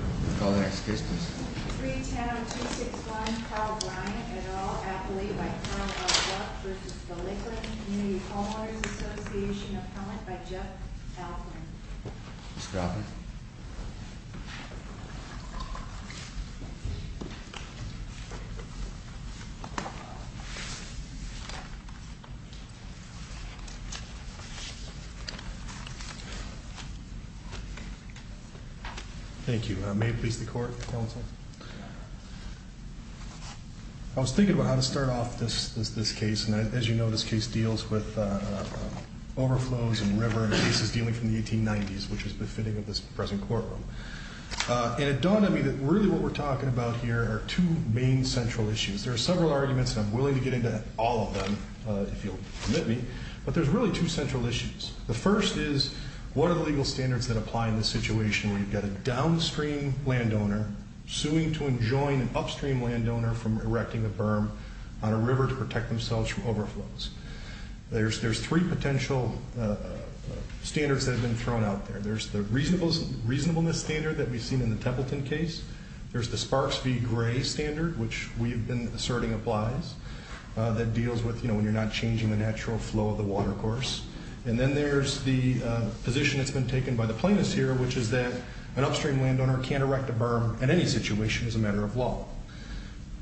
I call the next witness. Freetown 261 Carl Bryant, et al. Appellee by Corp. of Duck v. The Lakelands Community Homeowners Association. Appellant by Jeff Altman. Mr. Altman. Thank you. May it please the court, counsel. I was thinking about how to start off this case. And as you know, this case deals with overflows and river and cases dealing from the 1890s, which is befitting of this present courtroom. And it dawned on me that really what we're talking about here are two main central issues. There are several arguments, and I'm willing to get into all of them if you'll permit me, but there's really two central issues. The first is what are the legal standards that apply in this situation where you've got a downstream landowner suing to enjoin an upstream landowner from erecting a berm on a river to protect themselves from overflows. There's three potential standards that have been thrown out there. There's the reasonableness standard that we've seen in the Templeton case. There's the Sparks v. Gray standard, which we've been asserting applies, that deals with, you know, when you're not changing the natural flow of the water course. And then there's the position that's been taken by the plaintiffs here, which is that an upstream landowner can't erect a berm in any situation as a matter of law.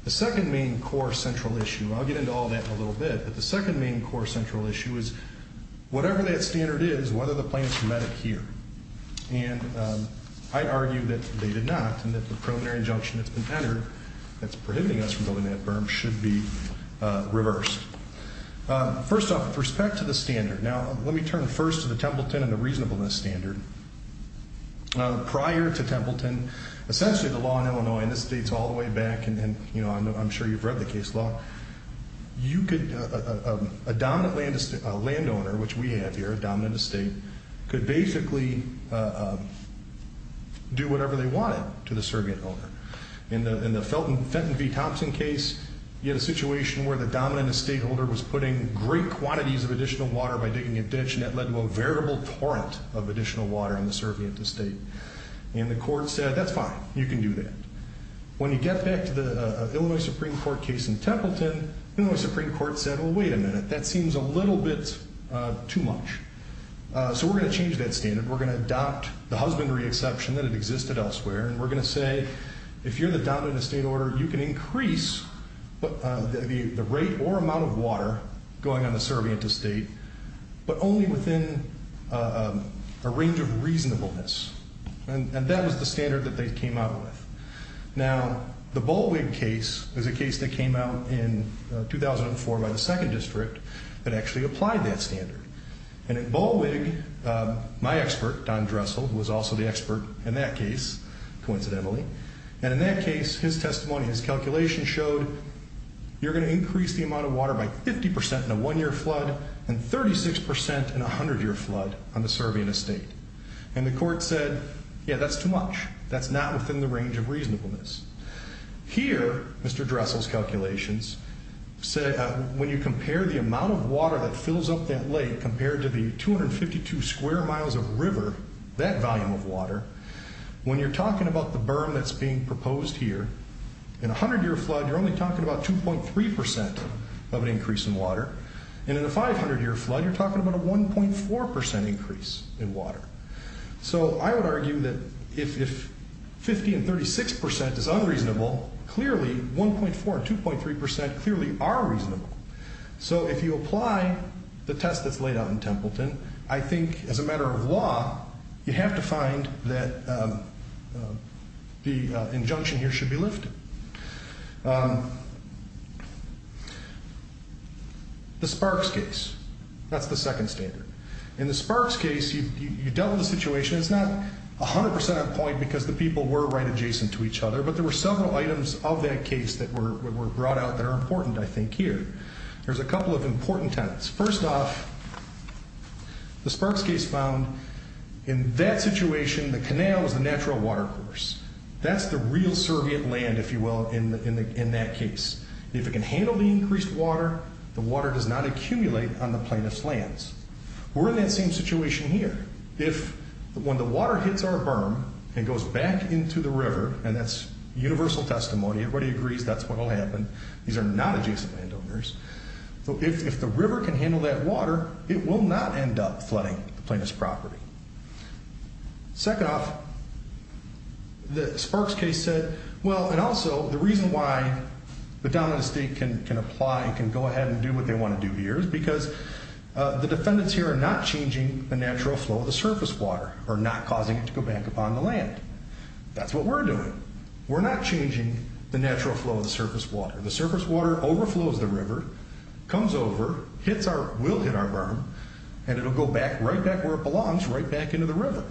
The second main core central issue, and I'll get into all that in a little bit, but the second main core central issue is whatever that standard is, whether the plaintiffs met it here. And I argue that they did not and that the preliminary injunction that's been entered that's prohibiting us from building that berm should be reversed. First off, with respect to the standard, now let me turn first to the Templeton and the reasonableness standard. Prior to Templeton, essentially the law in Illinois, and this dates all the way back and, you know, I'm sure you've read the case law, you could, a dominant landowner, which we have here, a dominant estate, could basically do whatever they wanted to the surrogate owner. In the Fenton v. Thompson case, you had a situation where the dominant estate owner was putting great quantities of additional water by digging a ditch, and that led to a veritable torrent of additional water on the surrogate estate. And the court said, that's fine, you can do that. When you get back to the Illinois Supreme Court case in Templeton, the Illinois Supreme Court said, well, wait a minute, that seems a little bit too much. So we're going to change that standard. We're going to adopt the husbandry exception that had existed elsewhere, and we're going to say, if you're the dominant estate owner, you can increase the rate or amount of water going on the surrogate estate, but only within a range of reasonableness. And that was the standard that they came out with. Now, the Bollwig case is a case that came out in 2004 by the second district that actually applied that standard. And in Bollwig, my expert, Don Dressel, who was also the expert in that case, coincidentally, and in that case, his testimony, his calculation showed you're going to increase the amount of water by 50% in a one-year flood, and 36% in a 100-year flood on the surveying estate. And the court said, yeah, that's too much. That's not within the range of reasonableness. Here, Mr. Dressel's calculations, when you compare the amount of water that fills up that lake compared to the 252 square miles of river, that volume of water, when you're talking about the berm that's being proposed here, in a 100-year flood, you're only talking about 2.3% of an increase in water. And in a 500-year flood, you're talking about a 1.4% increase in water. So I would argue that if 50% and 36% is unreasonable, clearly 1.4% and 2.3% clearly are reasonable. So if you apply the test that's laid out in Templeton, I think as a matter of law, you have to find that the injunction here should be lifted. The Sparks case, that's the second standard. In the Sparks case, you dealt with the situation. It's not 100% on point because the people were right adjacent to each other, but there were several items of that case that were brought out that are important, I think, here. There's a couple of important elements. First off, the Sparks case found in that situation, the canal is the natural water course. That's the real survey of land, if you will, in that case. If it can handle the increased water, the water does not accumulate on the plaintiff's lands. We're in that same situation here. If when the water hits our berm and goes back into the river, and that's universal testimony. Everybody agrees that's what will happen. These are not adjacent landowners. So if the river can handle that water, it will not end up flooding the plaintiff's property. Second off, the Sparks case said, well, and also the reason why the dominant state can apply and can go ahead and do what they want to do here is because the defendants here are not changing the natural flow of the surface water or not causing it to go back upon the land. That's what we're doing. We're not changing the natural flow of the surface water. The surface water overflows the river, comes over, will hit our berm, and it will go right back where it belongs, right back into the river.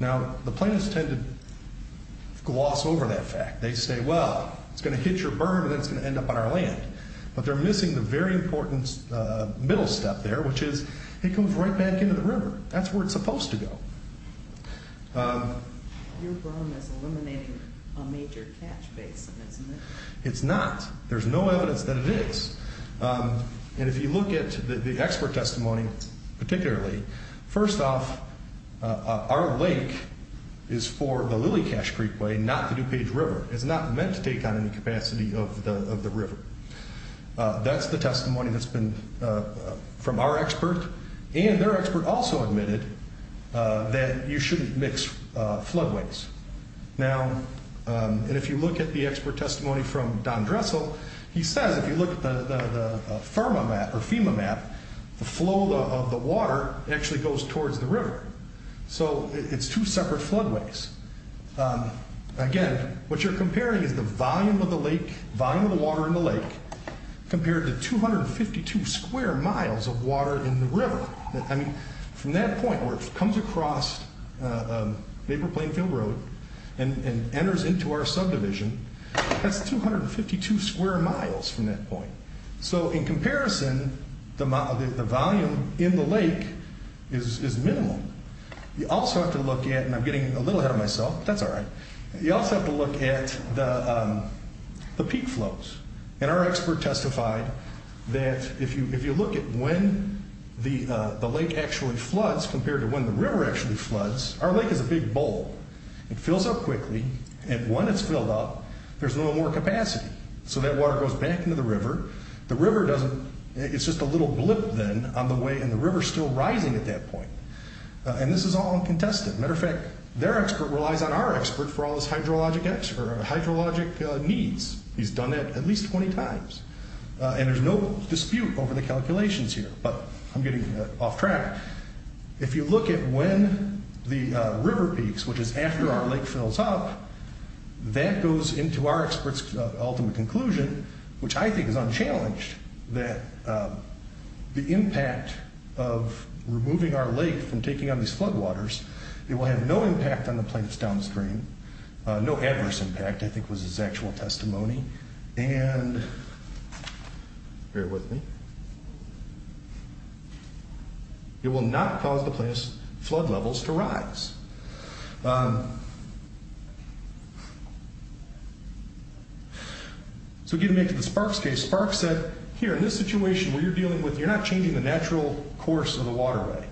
Now, the plaintiffs tend to gloss over that fact. They say, well, it's going to hit your berm and then it's going to end up on our land. But they're missing the very important middle step there, which is it comes right back into the river. That's where it's supposed to go. Your berm is eliminating a major catch basin, isn't it? It's not. There's no evidence that it is. And if you look at the expert testimony particularly, first off, our lake is for the Lily Cache Creekway, not the DuPage River. It's not meant to take on any capacity of the river. That's the testimony that's been from our expert. And their expert also admitted that you shouldn't mix floodways. Now, and if you look at the expert testimony from Don Dressel, he says if you look at the FEMA map, the flow of the water actually goes towards the river. So it's two separate floodways. Again, what you're comparing is the volume of the lake, volume of the water in the lake, compared to 252 square miles of water in the river. I mean, from that point where it comes across Maple Plainfield Road and enters into our subdivision, that's 252 square miles from that point. So in comparison, the volume in the lake is minimal. You also have to look at, and I'm getting a little ahead of myself. That's all right. You also have to look at the peak flows. And our expert testified that if you look at when the lake actually floods compared to when the river actually floods, our lake is a big bowl. It fills up quickly. And when it's filled up, there's no more capacity. So that water goes back into the river. It's just a little blip then on the way, and the river's still rising at that point. And this is all uncontested. Matter of fact, their expert relies on our expert for all his hydrologic needs. He's done that at least 20 times. And there's no dispute over the calculations here. But I'm getting off track. If you look at when the river peaks, which is after our lake fills up, that goes into our expert's ultimate conclusion, which I think is unchallenged, that the impact of removing our lake from taking on these floodwaters, it will have no impact on the plants downstream, no adverse impact, I think was his actual testimony. And bear with me. It will not cause the plant's flood levels to rise. So getting back to the Sparks case, Sparks said, here, in this situation where you're dealing with, you're not changing the natural course of the waterway.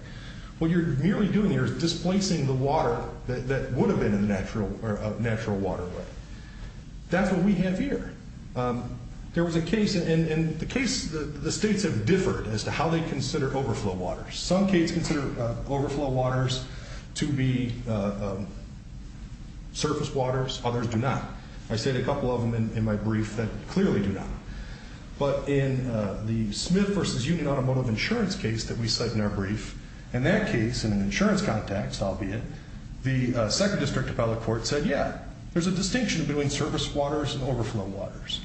What you're merely doing here is displacing the water that would have been in the natural waterway. That's what we have here. There was a case, and the case, the states have differed as to how they consider overflow waters. Some states consider overflow waters to be surface waters. Others do not. I stated a couple of them in my brief that clearly do not. But in the Smith v. Union Automotive Insurance case that we cite in our brief, in that case, in an insurance context, albeit, the 2nd District Appellate Court said, yeah, there's a distinction between surface waters and overflow waters.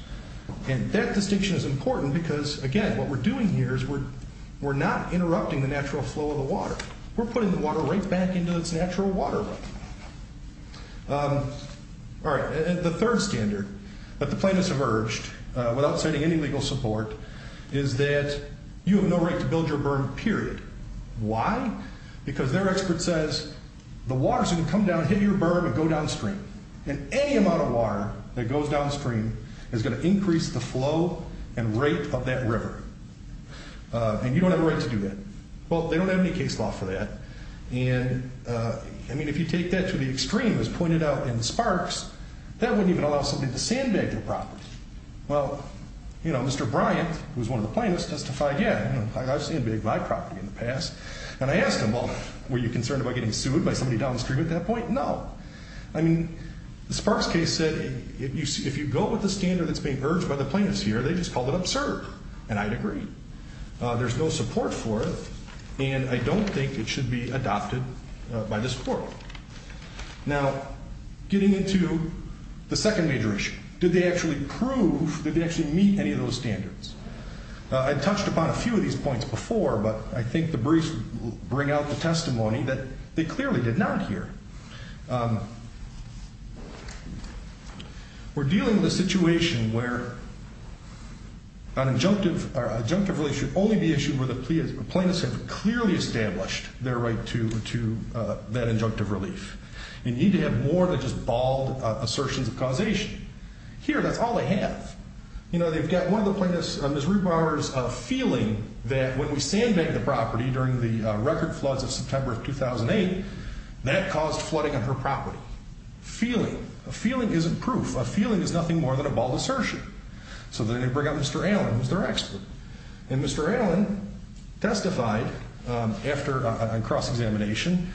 And that distinction is important because, again, what we're doing here is we're not interrupting the natural flow of the water. We're putting the water right back into its natural waterway. All right. The 3rd standard that the plaintiffs have urged, without citing any legal support, is that you have no right to build your berm, period. Why? Because their expert says the water's going to come down, hit your berm, and go downstream. And any amount of water that goes downstream is going to increase the flow and rate of that river. And you don't have a right to do that. Well, they don't have any case law for that. And, I mean, if you take that to the extreme, as pointed out in the sparks, that wouldn't even allow somebody to sandbag their property. Well, you know, Mr. Bryant, who's one of the plaintiffs, testified, yeah, I've sandbagged my property in the past. And I asked him, well, were you concerned about getting sued by somebody downstream at that point? No. I mean, the sparks case said, if you go with the standard that's being urged by the plaintiffs here, they just called it absurd. And I'd agree. There's no support for it, and I don't think it should be adopted by this court. Now, getting into the 2nd major issue. Did they actually prove, did they actually meet any of those standards? I touched upon a few of these points before, but I think the briefs bring out the testimony that they clearly did not here. We're dealing with a situation where an injunctive relief should only be issued where the plaintiffs have clearly established their right to that injunctive relief. And you need to have more than just bald assertions of causation. Here, that's all they have. You know, they've got one of the plaintiffs, Ms. Ruebauer's feeling that when we sandbagged the property during the record floods of September of 2008, that caused flooding on her property. Feeling. A feeling isn't proof. A feeling is nothing more than a bald assertion. So then they bring up Mr. Allen, who's their expert. And Mr. Allen testified after a cross-examination,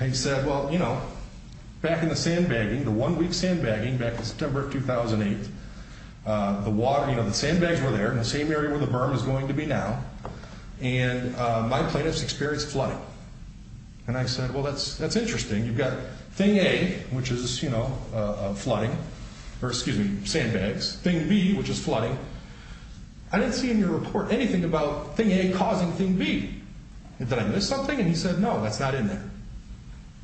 and he said, well, you know, back in the sandbagging, the one-week sandbagging back in September of 2008, the water, you know, the sandbags were there in the same area where the berm is going to be now. And my plaintiffs experienced flooding. And I said, well, that's interesting. You've got thing A, which is, you know, flooding, or excuse me, sandbags. Thing B, which is flooding. I didn't see in your report anything about thing A causing thing B. Did I miss something? And he said, no, that's not in there.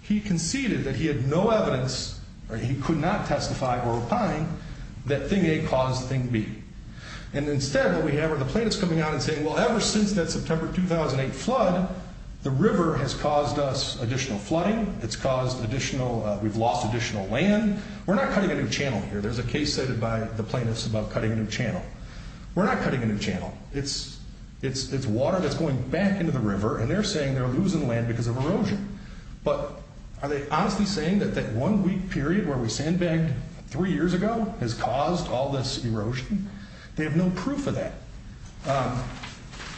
He conceded that he had no evidence, or he could not testify or opine, that thing A caused thing B. And instead what we have are the plaintiffs coming out and saying, well, ever since that September 2008 flood, the river has caused us additional flooding. It's caused additional, we've lost additional land. We're not cutting a new channel here. There's a case cited by the plaintiffs about cutting a new channel. We're not cutting a new channel. It's water that's going back into the river, and they're saying they're losing land because of erosion. But are they honestly saying that that one week period where we sandbagged three years ago has caused all this erosion? They have no proof of that.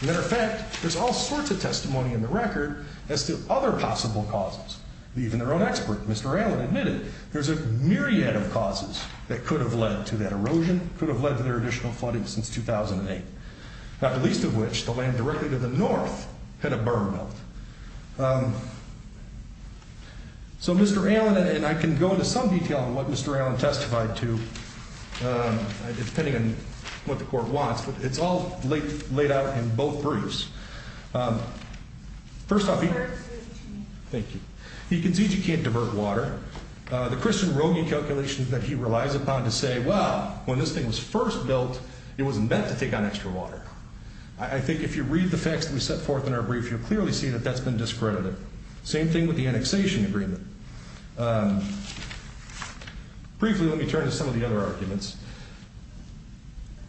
Matter of fact, there's all sorts of testimony in the record as to other possible causes. Even their own expert, Mr. Allen, admitted there's a myriad of causes that could have led to that erosion, could have led to their additional flooding since 2008. Not the least of which, the land directly to the north had a berm built. So Mr. Allen, and I can go into some detail on what Mr. Allen testified to, depending on what the court wants, but it's all laid out in both briefs. First off, he concedes you can't divert water. The Christian Rogge calculations that he relies upon to say, well, when this thing was first built, it wasn't meant to take on extra water. I think if you read the facts that we set forth in our brief, you'll clearly see that that's been discredited. Same thing with the annexation agreement. Briefly, let me turn to some of the other arguments.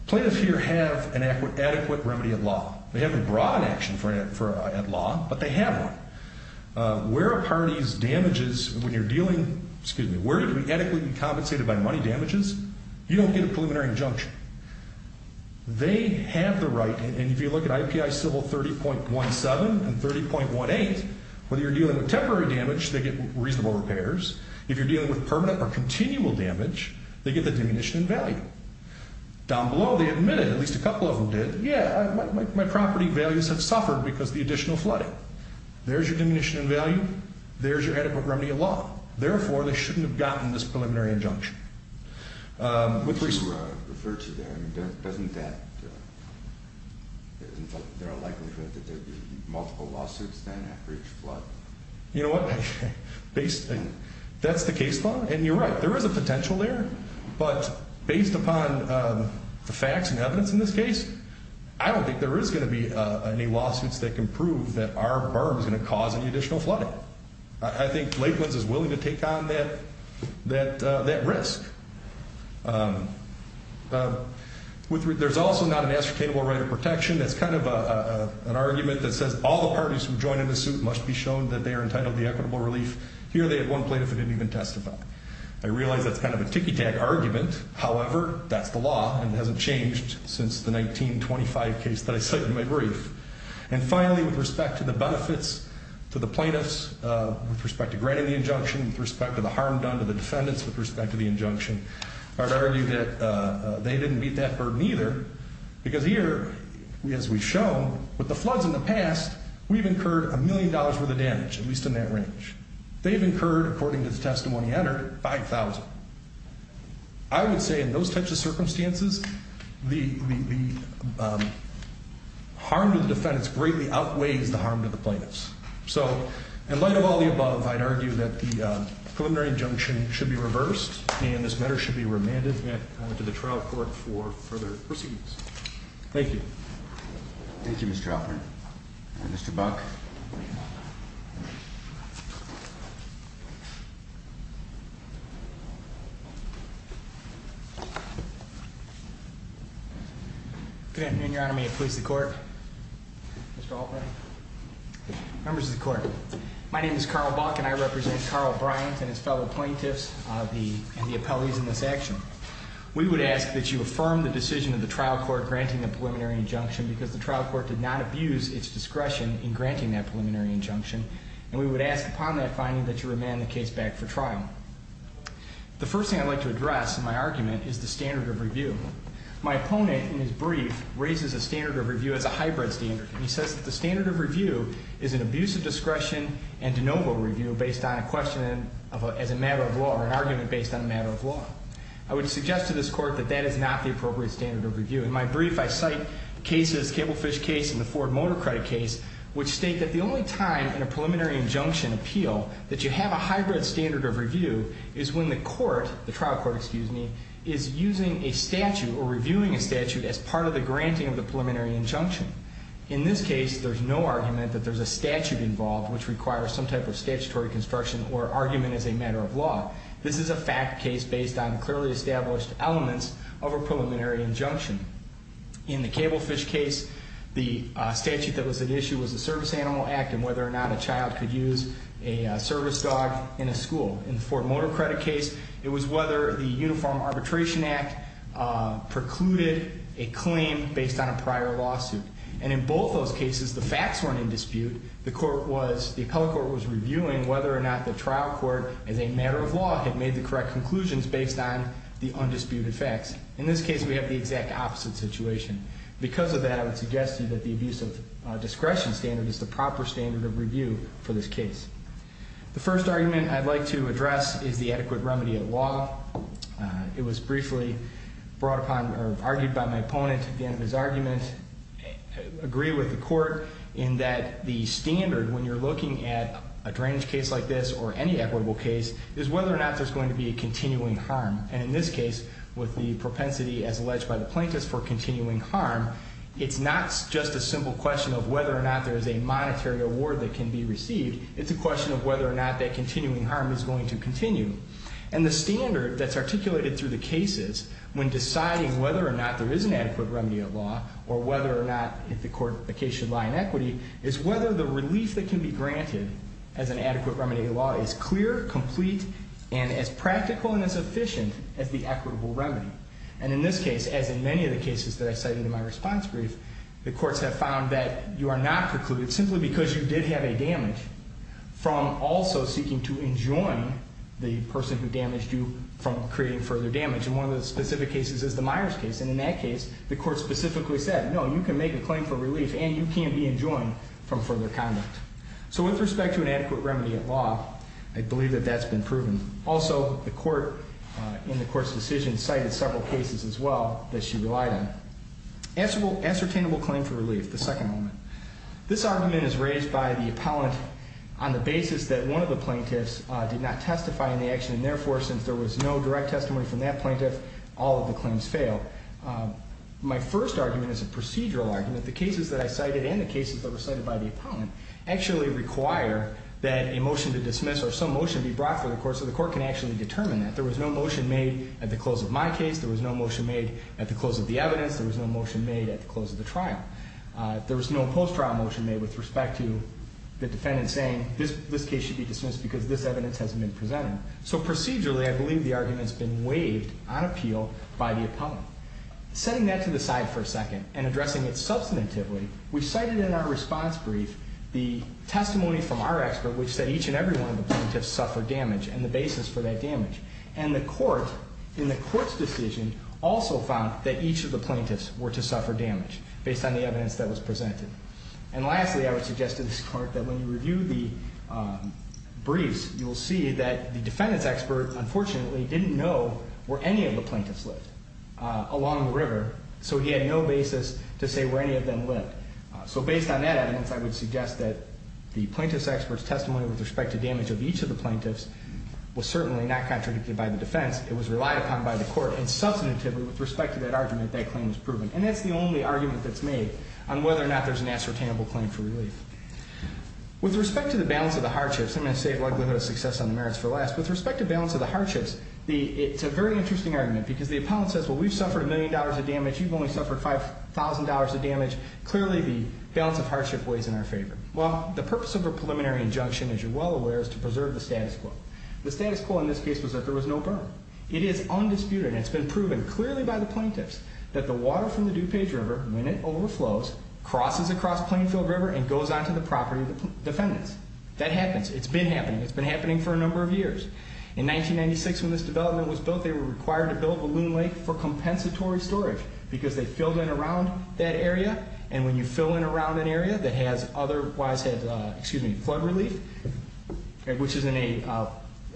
Plaintiffs here have an adequate remedy at law. They have a broad action at law, but they have one. Where a party's damages, when you're dealing, excuse me, where do we adequately be compensated by money damages? You don't get a preliminary injunction. They have the right, and if you look at IPI civil 30.17 and 30.18, whether you're dealing with temporary damage, they get reasonable repairs. If you're dealing with permanent or continual damage, they get the diminution in value. Down below, they admitted, at least a couple of them did, yeah, my property values have suffered because of the additional flooding. There's your diminution in value. There's your adequate remedy in law. Therefore, they shouldn't have gotten this preliminary injunction. Which you referred to there, doesn't that, there are likely to be multiple lawsuits then after each flood? You know what, that's the case law, and you're right. There is a potential there, but based upon the facts and evidence in this case, I don't think there is going to be any lawsuits that can prove that our berm is going to cause any additional flooding. I think Lakelands is willing to take on that risk. There's also not an ascertainable right of protection. That's kind of an argument that says all the parties who join in the suit must be shown that they are entitled to equitable relief. Here they had one plaintiff who didn't even testify. I realize that's kind of a ticky tag argument. However, that's the law, and it hasn't changed since the 1925 case that I cited in my brief. And finally, with respect to the benefits to the plaintiffs, with respect to granting the injunction, with respect to the harm done to the defendants with respect to the injunction, I would argue that they didn't meet that burden either. Because here, as we've shown, with the floods in the past, we've incurred a million dollars worth of damage, at least in that range. They've incurred, according to the testimony entered, $5,000. I would say in those types of circumstances, the harm to the defendants greatly outweighs the harm to the plaintiffs. So, in light of all the above, I'd argue that the preliminary injunction should be reversed, and this matter should be remanded to the trial court for further proceedings. Thank you. Thank you, Mr. Alpert. Mr. Buck. Good afternoon, Your Honor. May it please the Court. Mr. Alpert. Members of the Court, my name is Carl Buck, and I represent Carl Bryant and his fellow plaintiffs and the appellees in this action. We would ask that you affirm the decision of the trial court granting the preliminary injunction because the trial court did not abuse its discretion in granting that preliminary injunction, and we would ask upon that finding that you remand the case back for trial. The first thing I'd like to address in my argument is the standard of review. My opponent, in his brief, raises a standard of review as a hybrid standard. He says that the standard of review is an abuse of discretion and de novo review based on a question as a matter of law or an argument based on a matter of law. I would suggest to this Court that that is not the appropriate standard of review. In my brief, I cite cases, the Cablefish case and the Ford Motor Credit case, which state that the only time in a preliminary injunction appeal that you have a hybrid standard of review is when the court, the trial court, excuse me, is using a statute or reviewing a statute as part of the granting of the preliminary injunction. In this case, there's no argument that there's a statute involved which requires some type of statutory construction or argument as a matter of law. This is a fact case based on clearly established elements of a preliminary injunction. In the Cablefish case, the statute that was at issue was the Service Animal Act and whether or not a child could use a service dog in a school. In the Ford Motor Credit case, it was whether the Uniform Arbitration Act precluded a claim based on a prior lawsuit. And in both those cases, the facts weren't in dispute. The court was, the appellate court was reviewing whether or not the trial court, as a matter of law, had made the correct conclusions based on the undisputed facts. In this case, we have the exact opposite situation. Because of that, I would suggest to you that the abuse of discretion standard is the proper standard of review for this case. The first argument I'd like to address is the adequate remedy of law. It was briefly brought upon or argued by my opponent at the end of his argument, agree with the court in that the standard when you're looking at a drainage case like this or any equitable case is whether or not there's going to be a continuing harm. And in this case, with the propensity as alleged by the plaintiffs for continuing harm, it's not just a simple question of whether or not there's a monetary award that can be received. It's a question of whether or not that continuing harm is going to continue. And the standard that's articulated through the cases when deciding whether or not there is an adequate remedy of law or whether or not, if the court, the case should lie in equity, is whether the relief that can be granted as an adequate remedy of law is clear, complete, and as practical and as efficient as the equitable remedy. And in this case, as in many of the cases that I cite in my response brief, the courts have found that you are not precluded simply because you did have a damage from also seeking to enjoin the person who damaged you from creating further damage. And one of the specific cases is the Myers case. And in that case, the court specifically said, no, you can make a claim for relief, and you can be enjoined from further conduct. So with respect to an adequate remedy of law, I believe that that's been proven. Also, the court in the court's decision cited several cases as well that she relied on. Ascertainable claim for relief, the second moment. This argument is raised by the appellant on the basis that one of the plaintiffs did not testify in the action, and therefore, since there was no direct testimony from that plaintiff, all of the claims failed. My first argument is a procedural argument. The cases that I cited and the cases that were cited by the appellant actually require that a motion to dismiss or some motion be brought before the court so the court can actually determine that. There was no motion made at the close of my case. There was no motion made at the close of the evidence. There was no motion made at the close of the trial. There was no post-trial motion made with respect to the defendant saying this case should be dismissed because this evidence hasn't been presented. So procedurally, I believe the argument's been waived on appeal by the appellant. Setting that to the side for a second and addressing it substantively, we cited in our response brief the testimony from our expert, which said each and every one of the plaintiffs suffered damage and the basis for that damage. And the court in the court's decision also found that each of the plaintiffs were to suffer damage based on the evidence that was presented. And lastly, I would suggest to this court that when you review the briefs, you will see that the defendant's expert unfortunately didn't know where any of the plaintiffs lived along the river, so he had no basis to say where any of them lived. So based on that evidence, I would suggest that the plaintiff's expert's testimony with respect to damage of each of the plaintiffs was certainly not contradicted by the defense. It was relied upon by the court. And substantively, with respect to that argument, that claim is proven. And that's the only argument that's made on whether or not there's an ascertainable claim for relief. With respect to the balance of the hardships, I'm going to save likelihood of success on the merits for last. With respect to balance of the hardships, it's a very interesting argument because the appellant says, well, we've suffered a million dollars of damage. You've only suffered $5,000 of damage. Clearly, the balance of hardship weighs in our favor. Well, the purpose of a preliminary injunction, as you're well aware, is to preserve the status quo. The status quo in this case was that there was no burn. It is undisputed, and it's been proven clearly by the plaintiffs, that the water from the DuPage River, when it overflows, crosses across Plainfield River and goes onto the property of the defendants. That happens. It's been happening. It's been happening for a number of years. In 1996, when this development was built, they were required to build Balloon Lake for compensatory storage because they filled in around that area. And when you fill in around an area that has otherwise had flood relief, which is in a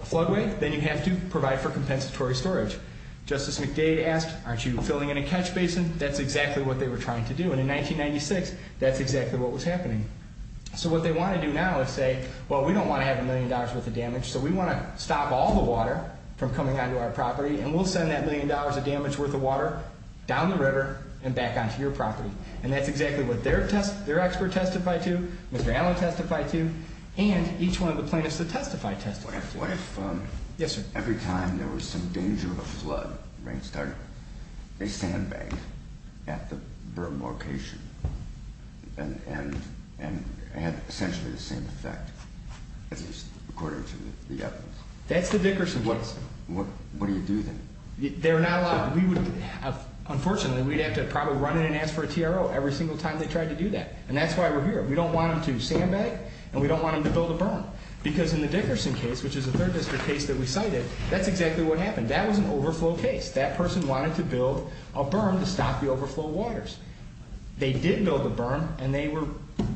floodway, then you have to provide for compensatory storage. Justice McDade asked, aren't you filling in a catch basin? That's exactly what they were trying to do. And in 1996, that's exactly what was happening. So what they want to do now is say, well, we don't want to have a million dollars worth of damage, so we want to stop all the water from coming onto our property, and we'll send that million dollars of damage worth of water down the river and back onto your property. And that's exactly what their expert testified to, Mr. Allen testified to, and each one of the plaintiffs that testified testified to. What if every time there was some danger of a flood, a rainstorm, they sandbagged at the berm location and had essentially the same effect, according to the evidence? That's the Dickerson case. What do you do then? They're not allowed. Unfortunately, we'd have to probably run in and ask for a TRO every single time they tried to do that. And that's why we're here. We don't want them to sandbag, and we don't want them to build a berm because in the Dickerson case, which is a third district case that we cited, that's exactly what happened. That was an overflow case. That person wanted to build a berm to stop the overflow waters. They did build a berm, and they were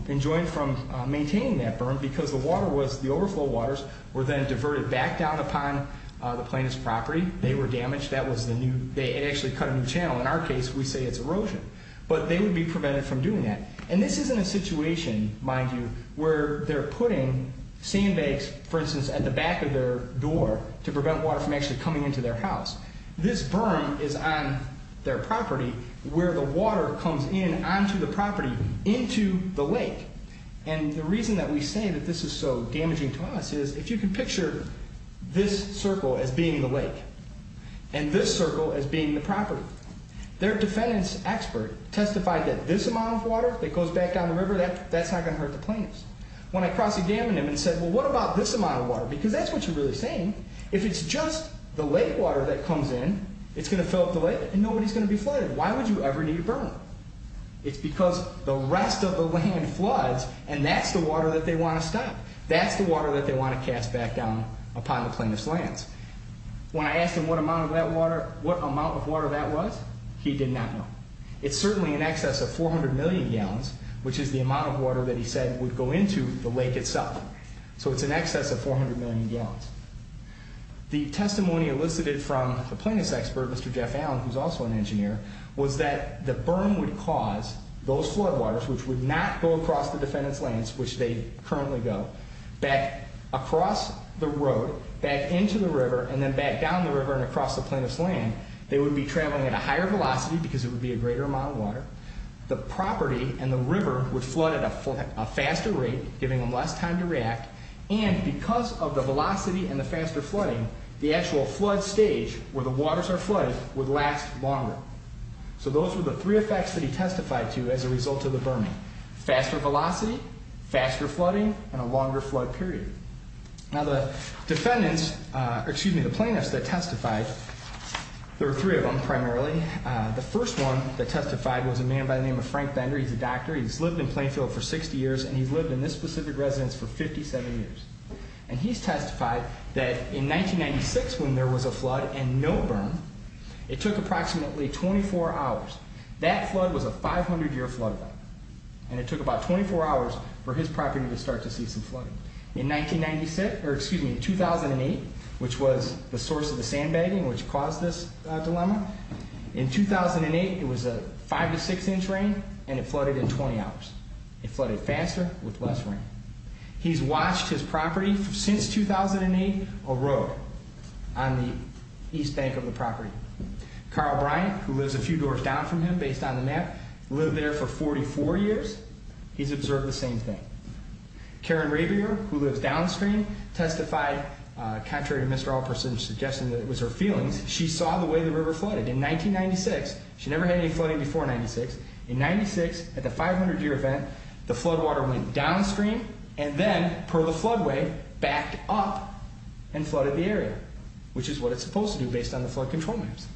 enjoined from maintaining that berm because the overflow waters were then diverted back down upon the plaintiff's property. They were damaged. They actually cut a new channel. In our case, we say it's erosion. But they would be prevented from doing that. And this isn't a situation, mind you, where they're putting sandbags, for instance, at the back of their door to prevent water from actually coming into their house. This berm is on their property where the water comes in onto the property into the lake. And the reason that we say that this is so damaging to us is if you can picture this circle as being the lake and this circle as being the property, their defendant's expert testified that this amount of water that goes back down the river, that's not going to hurt the plaintiffs. When I cross-examined him and said, well, what about this amount of water? Because that's what you're really saying. If it's just the lake water that comes in, it's going to fill up the lake, and nobody's going to be flooded. Why would you ever need a berm? It's because the rest of the land floods, and that's the water that they want to stop. That's the water that they want to cast back down upon the plaintiff's lands. When I asked him what amount of water that was, he did not know. It's certainly in excess of 400 million gallons, which is the amount of water that he said would go into the lake itself. So it's in excess of 400 million gallons. The testimony elicited from the plaintiff's expert, Mr. Jeff Allen, who's also an engineer, was that the berm would cause those floodwaters, which would not go across the defendant's lands, which they currently go, back across the road, back into the river, and then back down the river and across the plaintiff's land. They would be traveling at a higher velocity because it would be a greater amount of water. The property and the river would flood at a faster rate, giving them less time to react. And because of the velocity and the faster flooding, the actual flood stage, where the waters are flooded, would last longer. So those were the three effects that he testified to as a result of the berming. Faster velocity, faster flooding, and a longer flood period. Now the plaintiffs that testified, there were three of them primarily. The first one that testified was a man by the name of Frank Bender. He's a doctor. He's lived in Plainfield for 60 years, and he's lived in this specific residence for 57 years. And he's testified that in 1996 when there was a flood and no berm, it took approximately 24 hours. That flood was a 500-year flood. And it took about 24 hours for his property to start to see some flooding. In 2008, which was the source of the sandbagging which caused this dilemma, in 2008 it was a 5 to 6 inch rain and it flooded in 20 hours. It flooded faster with less rain. He's watched his property since 2008 erode on the east bank of the property. Carl Bryant, who lives a few doors down from him based on the map, lived there for 44 years. He's observed the same thing. Karen Rabier, who lives downstream, testified contrary to Mr. Allperson's suggestion that it was her feelings. She saw the way the river flooded in 1996. She never had any flooding before 1996. In 1996, at the 500-year event, the flood water went downstream, and then, per the floodway, backed up and flooded the area, which is what it's supposed to do based on the flood control maps.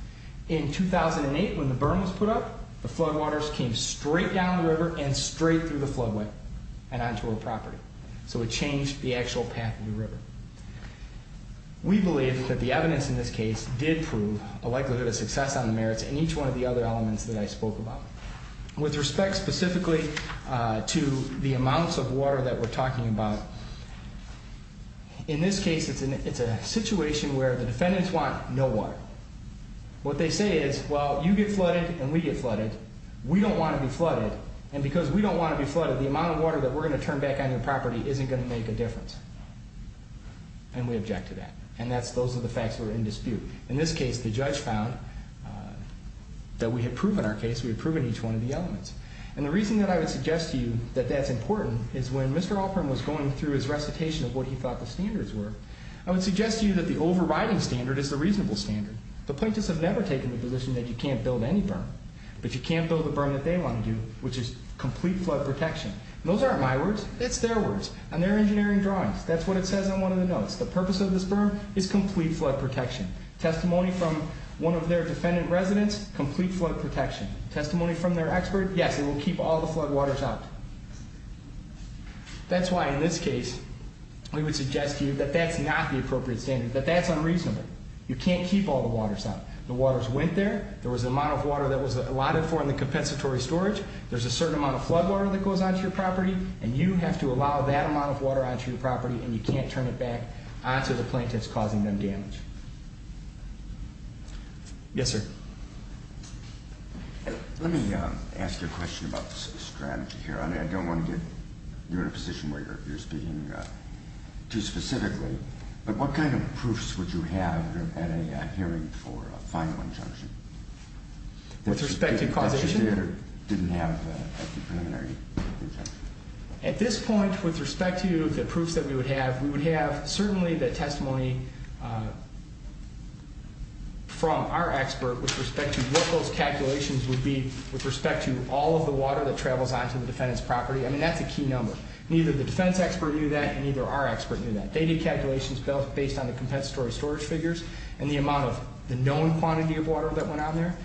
In 2008, when the berm was put up, the flood waters came straight down the river and straight through the floodway and onto her property. So it changed the actual path of the river. We believe that the evidence in this case did prove a likelihood of success on the merits in each one of the other elements that I spoke about. With respect specifically to the amounts of water that we're talking about, in this case, it's a situation where the defendants want no water. What they say is, well, you get flooded and we get flooded. We don't want to be flooded, and because we don't want to be flooded, the amount of water that we're going to turn back on your property isn't going to make a difference. And we object to that, and those are the facts that are in dispute. In this case, the judge found that we had proven our case. We had proven each one of the elements. And the reason that I would suggest to you that that's important is when Mr. Alpern was going through his recitation of what he thought the standards were, I would suggest to you that the overriding standard is the reasonable standard. The plaintiffs have never taken the position that you can't build any berm, but you can build the berm that they want to do, which is complete flood protection. Those aren't my words. It's their words. On their engineering drawings, that's what it says on one of the notes. The purpose of this berm is complete flood protection. Testimony from one of their defendant residents, complete flood protection. Testimony from their expert, yes, it will keep all the floodwaters out. That's why in this case we would suggest to you that that's not the appropriate standard, that that's unreasonable. You can't keep all the waters out. The waters went there. There was an amount of water that was allotted for in the compensatory storage. There's a certain amount of floodwater that goes onto your property, and you have to allow that amount of water onto your property, and you can't turn it back onto the plaintiffs, causing them damage. Yes, sir. Let me ask you a question about the strategy here. I don't want to get you in a position where you're speaking too specifically, but what kind of proofs would you have at a hearing for a final injunction? With respect to causation? That you did or didn't have a preliminary injunction? At this point, with respect to the proofs that we would have, we would have certainly the testimony from our expert with respect to what those calculations would be with respect to all of the water that travels onto the defendant's property. I mean, that's a key number. Neither the defense expert knew that, and neither our expert knew that. They did calculations based on the compensatory storage figures and the amount of the known quantity of water that went on there.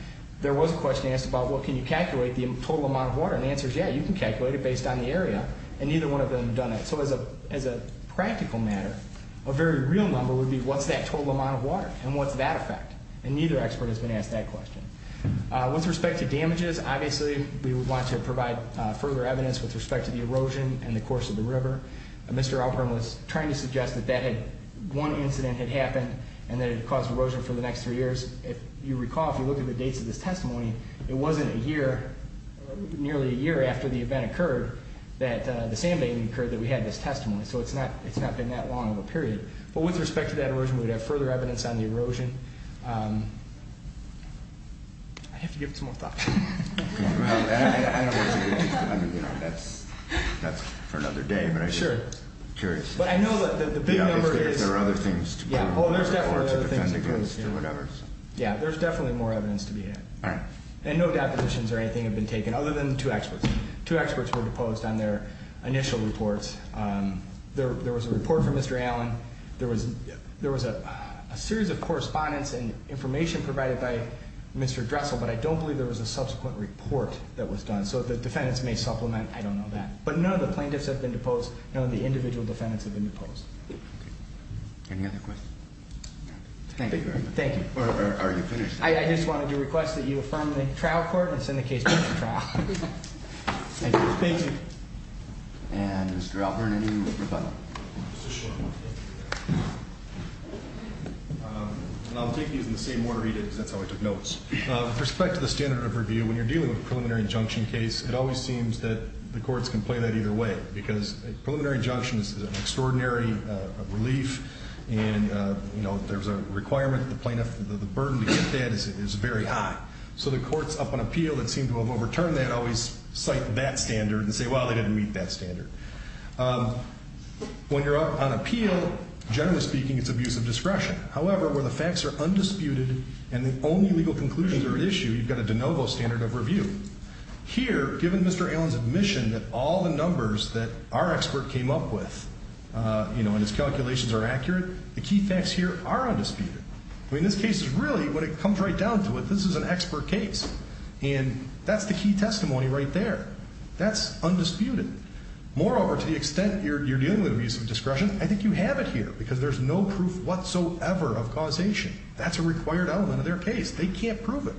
There was a question asked about, well, can you calculate the total amount of water? And the answer is, yeah, you can calculate it based on the area, and neither one of them had done it. So as a practical matter, a very real number would be, what's that total amount of water, and what's that effect? And neither expert has been asked that question. With respect to damages, obviously we would want to provide further evidence with respect to the erosion and the course of the river. Mr. Alpern was trying to suggest that one incident had happened and that it caused erosion for the next three years. If you recall, if you look at the dates of this testimony, it wasn't a year, nearly a year after the event occurred, that the sandbagging occurred, that we had this testimony. So it's not been that long of a period. But with respect to that erosion, we would have further evidence on the erosion. I have to give it some more thought. I know that's for another day, but I'm just curious. But I know that the big number is... Obviously, if there are other things to be done, or to defend against, or whatever. Yeah, there's definitely more evidence to be had. And no depositions or anything have been taken, other than the two experts. Two experts were deposed on their initial reports. There was a report from Mr. Allen. There was a series of correspondence and information provided by Mr. Dressel. But I don't believe there was a subsequent report that was done. So the defendants may supplement. I don't know that. But none of the plaintiffs have been deposed. None of the individual defendants have been deposed. Any other questions? Thank you very much. Thank you. Are you finished? I just wanted to request that you affirm the trial court and send the case back to trial. Thank you. Thank you. And Mr. Albert, I need you to rebut. Just a short one. And I'll take these in the same order he did, because that's how I took notes. With respect to the standard of review, when you're dealing with a preliminary injunction case, it always seems that the courts can play that either way. Because a preliminary injunction is an extraordinary relief. And, you know, there's a requirement that the plaintiff... The burden to get that is very high. So the courts up on appeal that seem to have overturned that always cite that standard and say, well, they didn't meet that standard. When you're up on appeal, generally speaking, it's abuse of discretion. However, where the facts are undisputed and the only legal conclusions are at issue, you've got a de novo standard of review. Here, given Mr. Allen's admission that all the numbers that our expert came up with, you know, and his calculations are accurate, the key facts here are undisputed. I mean, this case is really, when it comes right down to it, this is an expert case. And that's the key testimony right there. That's undisputed. Moreover, to the extent you're dealing with abuse of discretion, I think you have it here because there's no proof whatsoever of causation. That's a required element of their case. They can't prove it.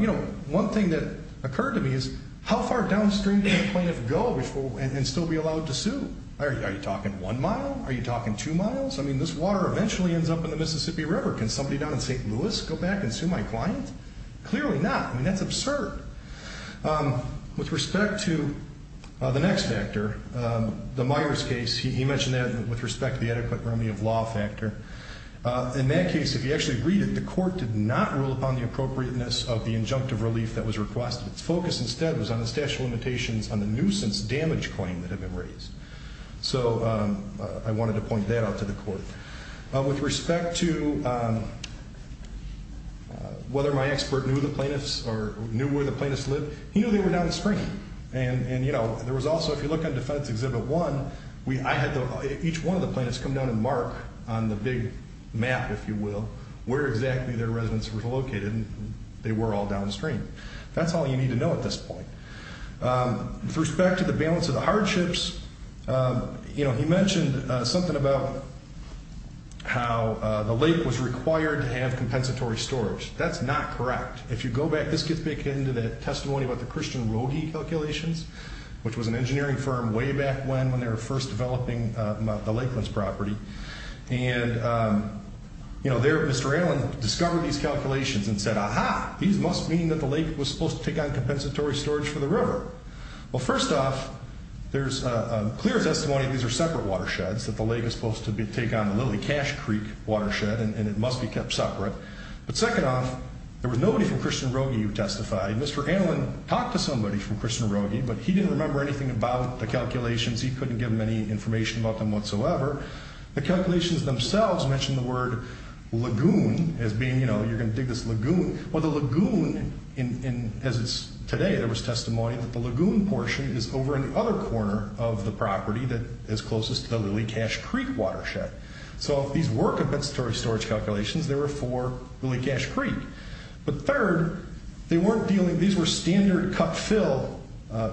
You know, one thing that occurred to me is how far downstream can a plaintiff go and still be allowed to sue? Are you talking one mile? Are you talking two miles? I mean, this water eventually ends up in the Mississippi River. Can somebody down in St. Louis go back and sue my client? Clearly not. I mean, that's absurd. With respect to the next factor, the Myers case, he mentioned that with respect to the adequate remedy of law factor. In that case, if you actually read it, the court did not rule upon the appropriateness of the injunctive relief that was requested. Its focus instead was on the statute of limitations on the nuisance damage claim that had been raised. So I wanted to point that out to the court. With respect to whether my expert knew the plaintiffs or knew where the plaintiffs lived, he knew they were downstream. And, you know, there was also, if you look on Defense Exhibit 1, I had each one of the plaintiffs come down and mark on the big map, if you will, where exactly their residence was located, and they were all downstream. That's all you need to know at this point. With respect to the balance of the hardships, you know, he mentioned something about how the lake was required to have compensatory storage. That's not correct. If you go back, this gets back into the testimony about the Christian Rohe calculations, which was an engineering firm way back when, when they were first developing the Lakelands property. And, you know, there Mr. Allen discovered these calculations and said, aha, these must mean that the lake was supposed to take on compensatory storage for the river. Well, first off, there's a clear testimony these are separate watersheds, that the lake is supposed to take on the Lilly Cash Creek watershed, and it must be kept separate. But second off, there was nobody from Christian Rohe who testified. Mr. Allen talked to somebody from Christian Rohe, but he didn't remember anything about the calculations. He couldn't give him any information about them whatsoever. The calculations themselves mention the word lagoon as being, you know, you're going to dig this lagoon. Well, the lagoon, as it's today, there was testimony that the lagoon portion is over in the other corner of the property that is closest to the Lilly Cash Creek watershed. So if these were compensatory storage calculations, they were for Lilly Cash Creek. But third, they weren't dealing, these were standard cut fill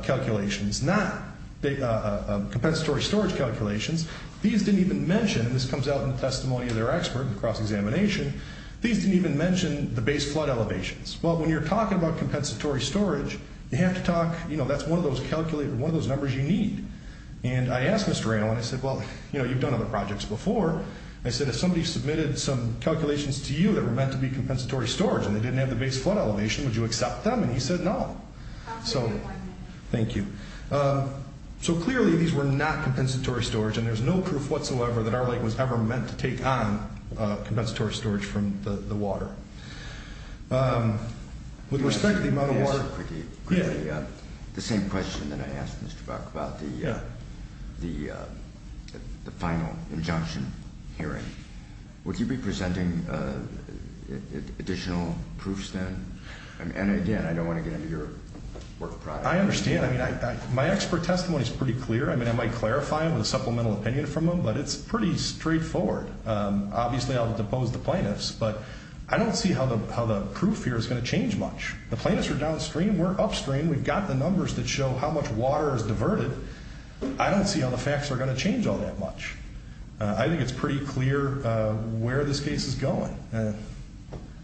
calculations, not compensatory storage calculations. These didn't even mention, this comes out in the testimony of their expert in cross-examination, these didn't even mention the base flood elevations. Well, when you're talking about compensatory storage, you have to talk, you know, that's one of those numbers you need. And I asked Mr. Randall, and I said, well, you know, you've done other projects before. I said, if somebody submitted some calculations to you that were meant to be compensatory storage and they didn't have the base flood elevation, would you accept them? And he said no. Thank you. So clearly these were not compensatory storage, and there's no proof whatsoever that our lake was ever meant to take on storage from the water. With respect to the amount of water. The same question that I asked Mr. Buck about the final injunction hearing. Would you be presenting additional proofs then? And again, I don't want to get into your work product. I understand. I mean, my expert testimony is pretty clear. I mean, I might clarify it with a supplemental opinion from him, but it's pretty straightforward. Obviously I'll depose the plaintiffs, but I don't see how the proof here is going to change much. The plaintiffs are downstream. We're upstream. We've got the numbers that show how much water is diverted. I don't see how the facts are going to change all that much. I think it's pretty clear where this case is going.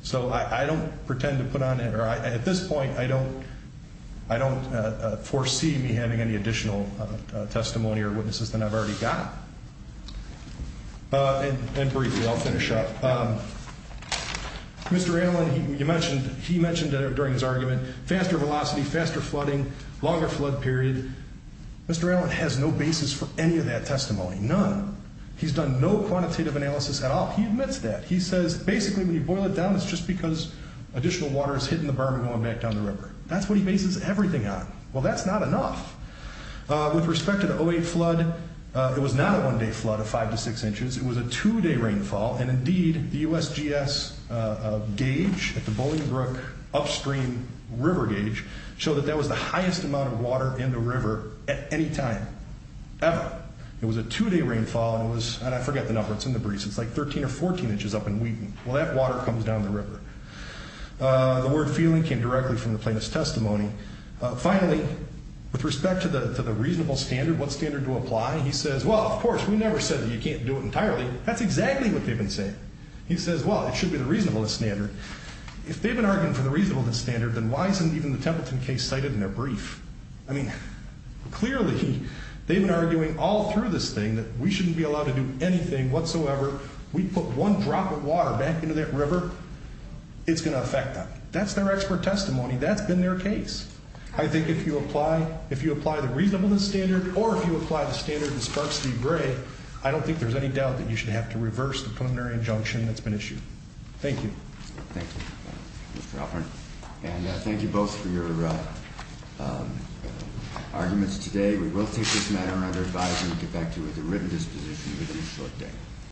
So I don't pretend to put on air. At this point, I don't foresee me having any additional testimony or witnesses than I've already got. And briefly, I'll finish up. Mr. Allen, he mentioned during his argument, faster velocity, faster flooding, longer flood period. Mr. Allen has no basis for any of that testimony. None. He's done no quantitative analysis at all. He admits that. He says basically when you boil it down, it's just because additional water is hitting the berm and going back down the river. That's what he bases everything on. Well, that's not enough. With respect to the 08 flood, it was not a one-day flood of five to six inches. It was a two-day rainfall, and indeed, the USGS gauge at the Bowling Brook upstream river gauge showed that that was the highest amount of water in the river at any time, ever. It was a two-day rainfall, and it was – and I forget the number. It's in the briefs. It's like 13 or 14 inches up in Wheaton. Well, that water comes down the river. The word feeling came directly from the plaintiff's testimony. Finally, with respect to the reasonable standard, what standard to apply, he says, well, of course, we never said that you can't do it entirely. That's exactly what they've been saying. He says, well, it should be the reasonableness standard. If they've been arguing for the reasonableness standard, then why isn't even the Templeton case cited in their brief? I mean, clearly, they've been arguing all through this thing that we shouldn't be allowed to do anything whatsoever. We put one drop of water back into that river, it's going to affect them. That's their expert testimony. That's been their case. I think if you apply the reasonableness standard or if you apply the standard that sparked Steve Gray, I don't think there's any doubt that you should have to reverse the preliminary injunction that's been issued. Thank you. Thank you, Mr. Alpern. And thank you both for your arguments today. We will take this matter under advisement and get back to you with a written disposition within a short day.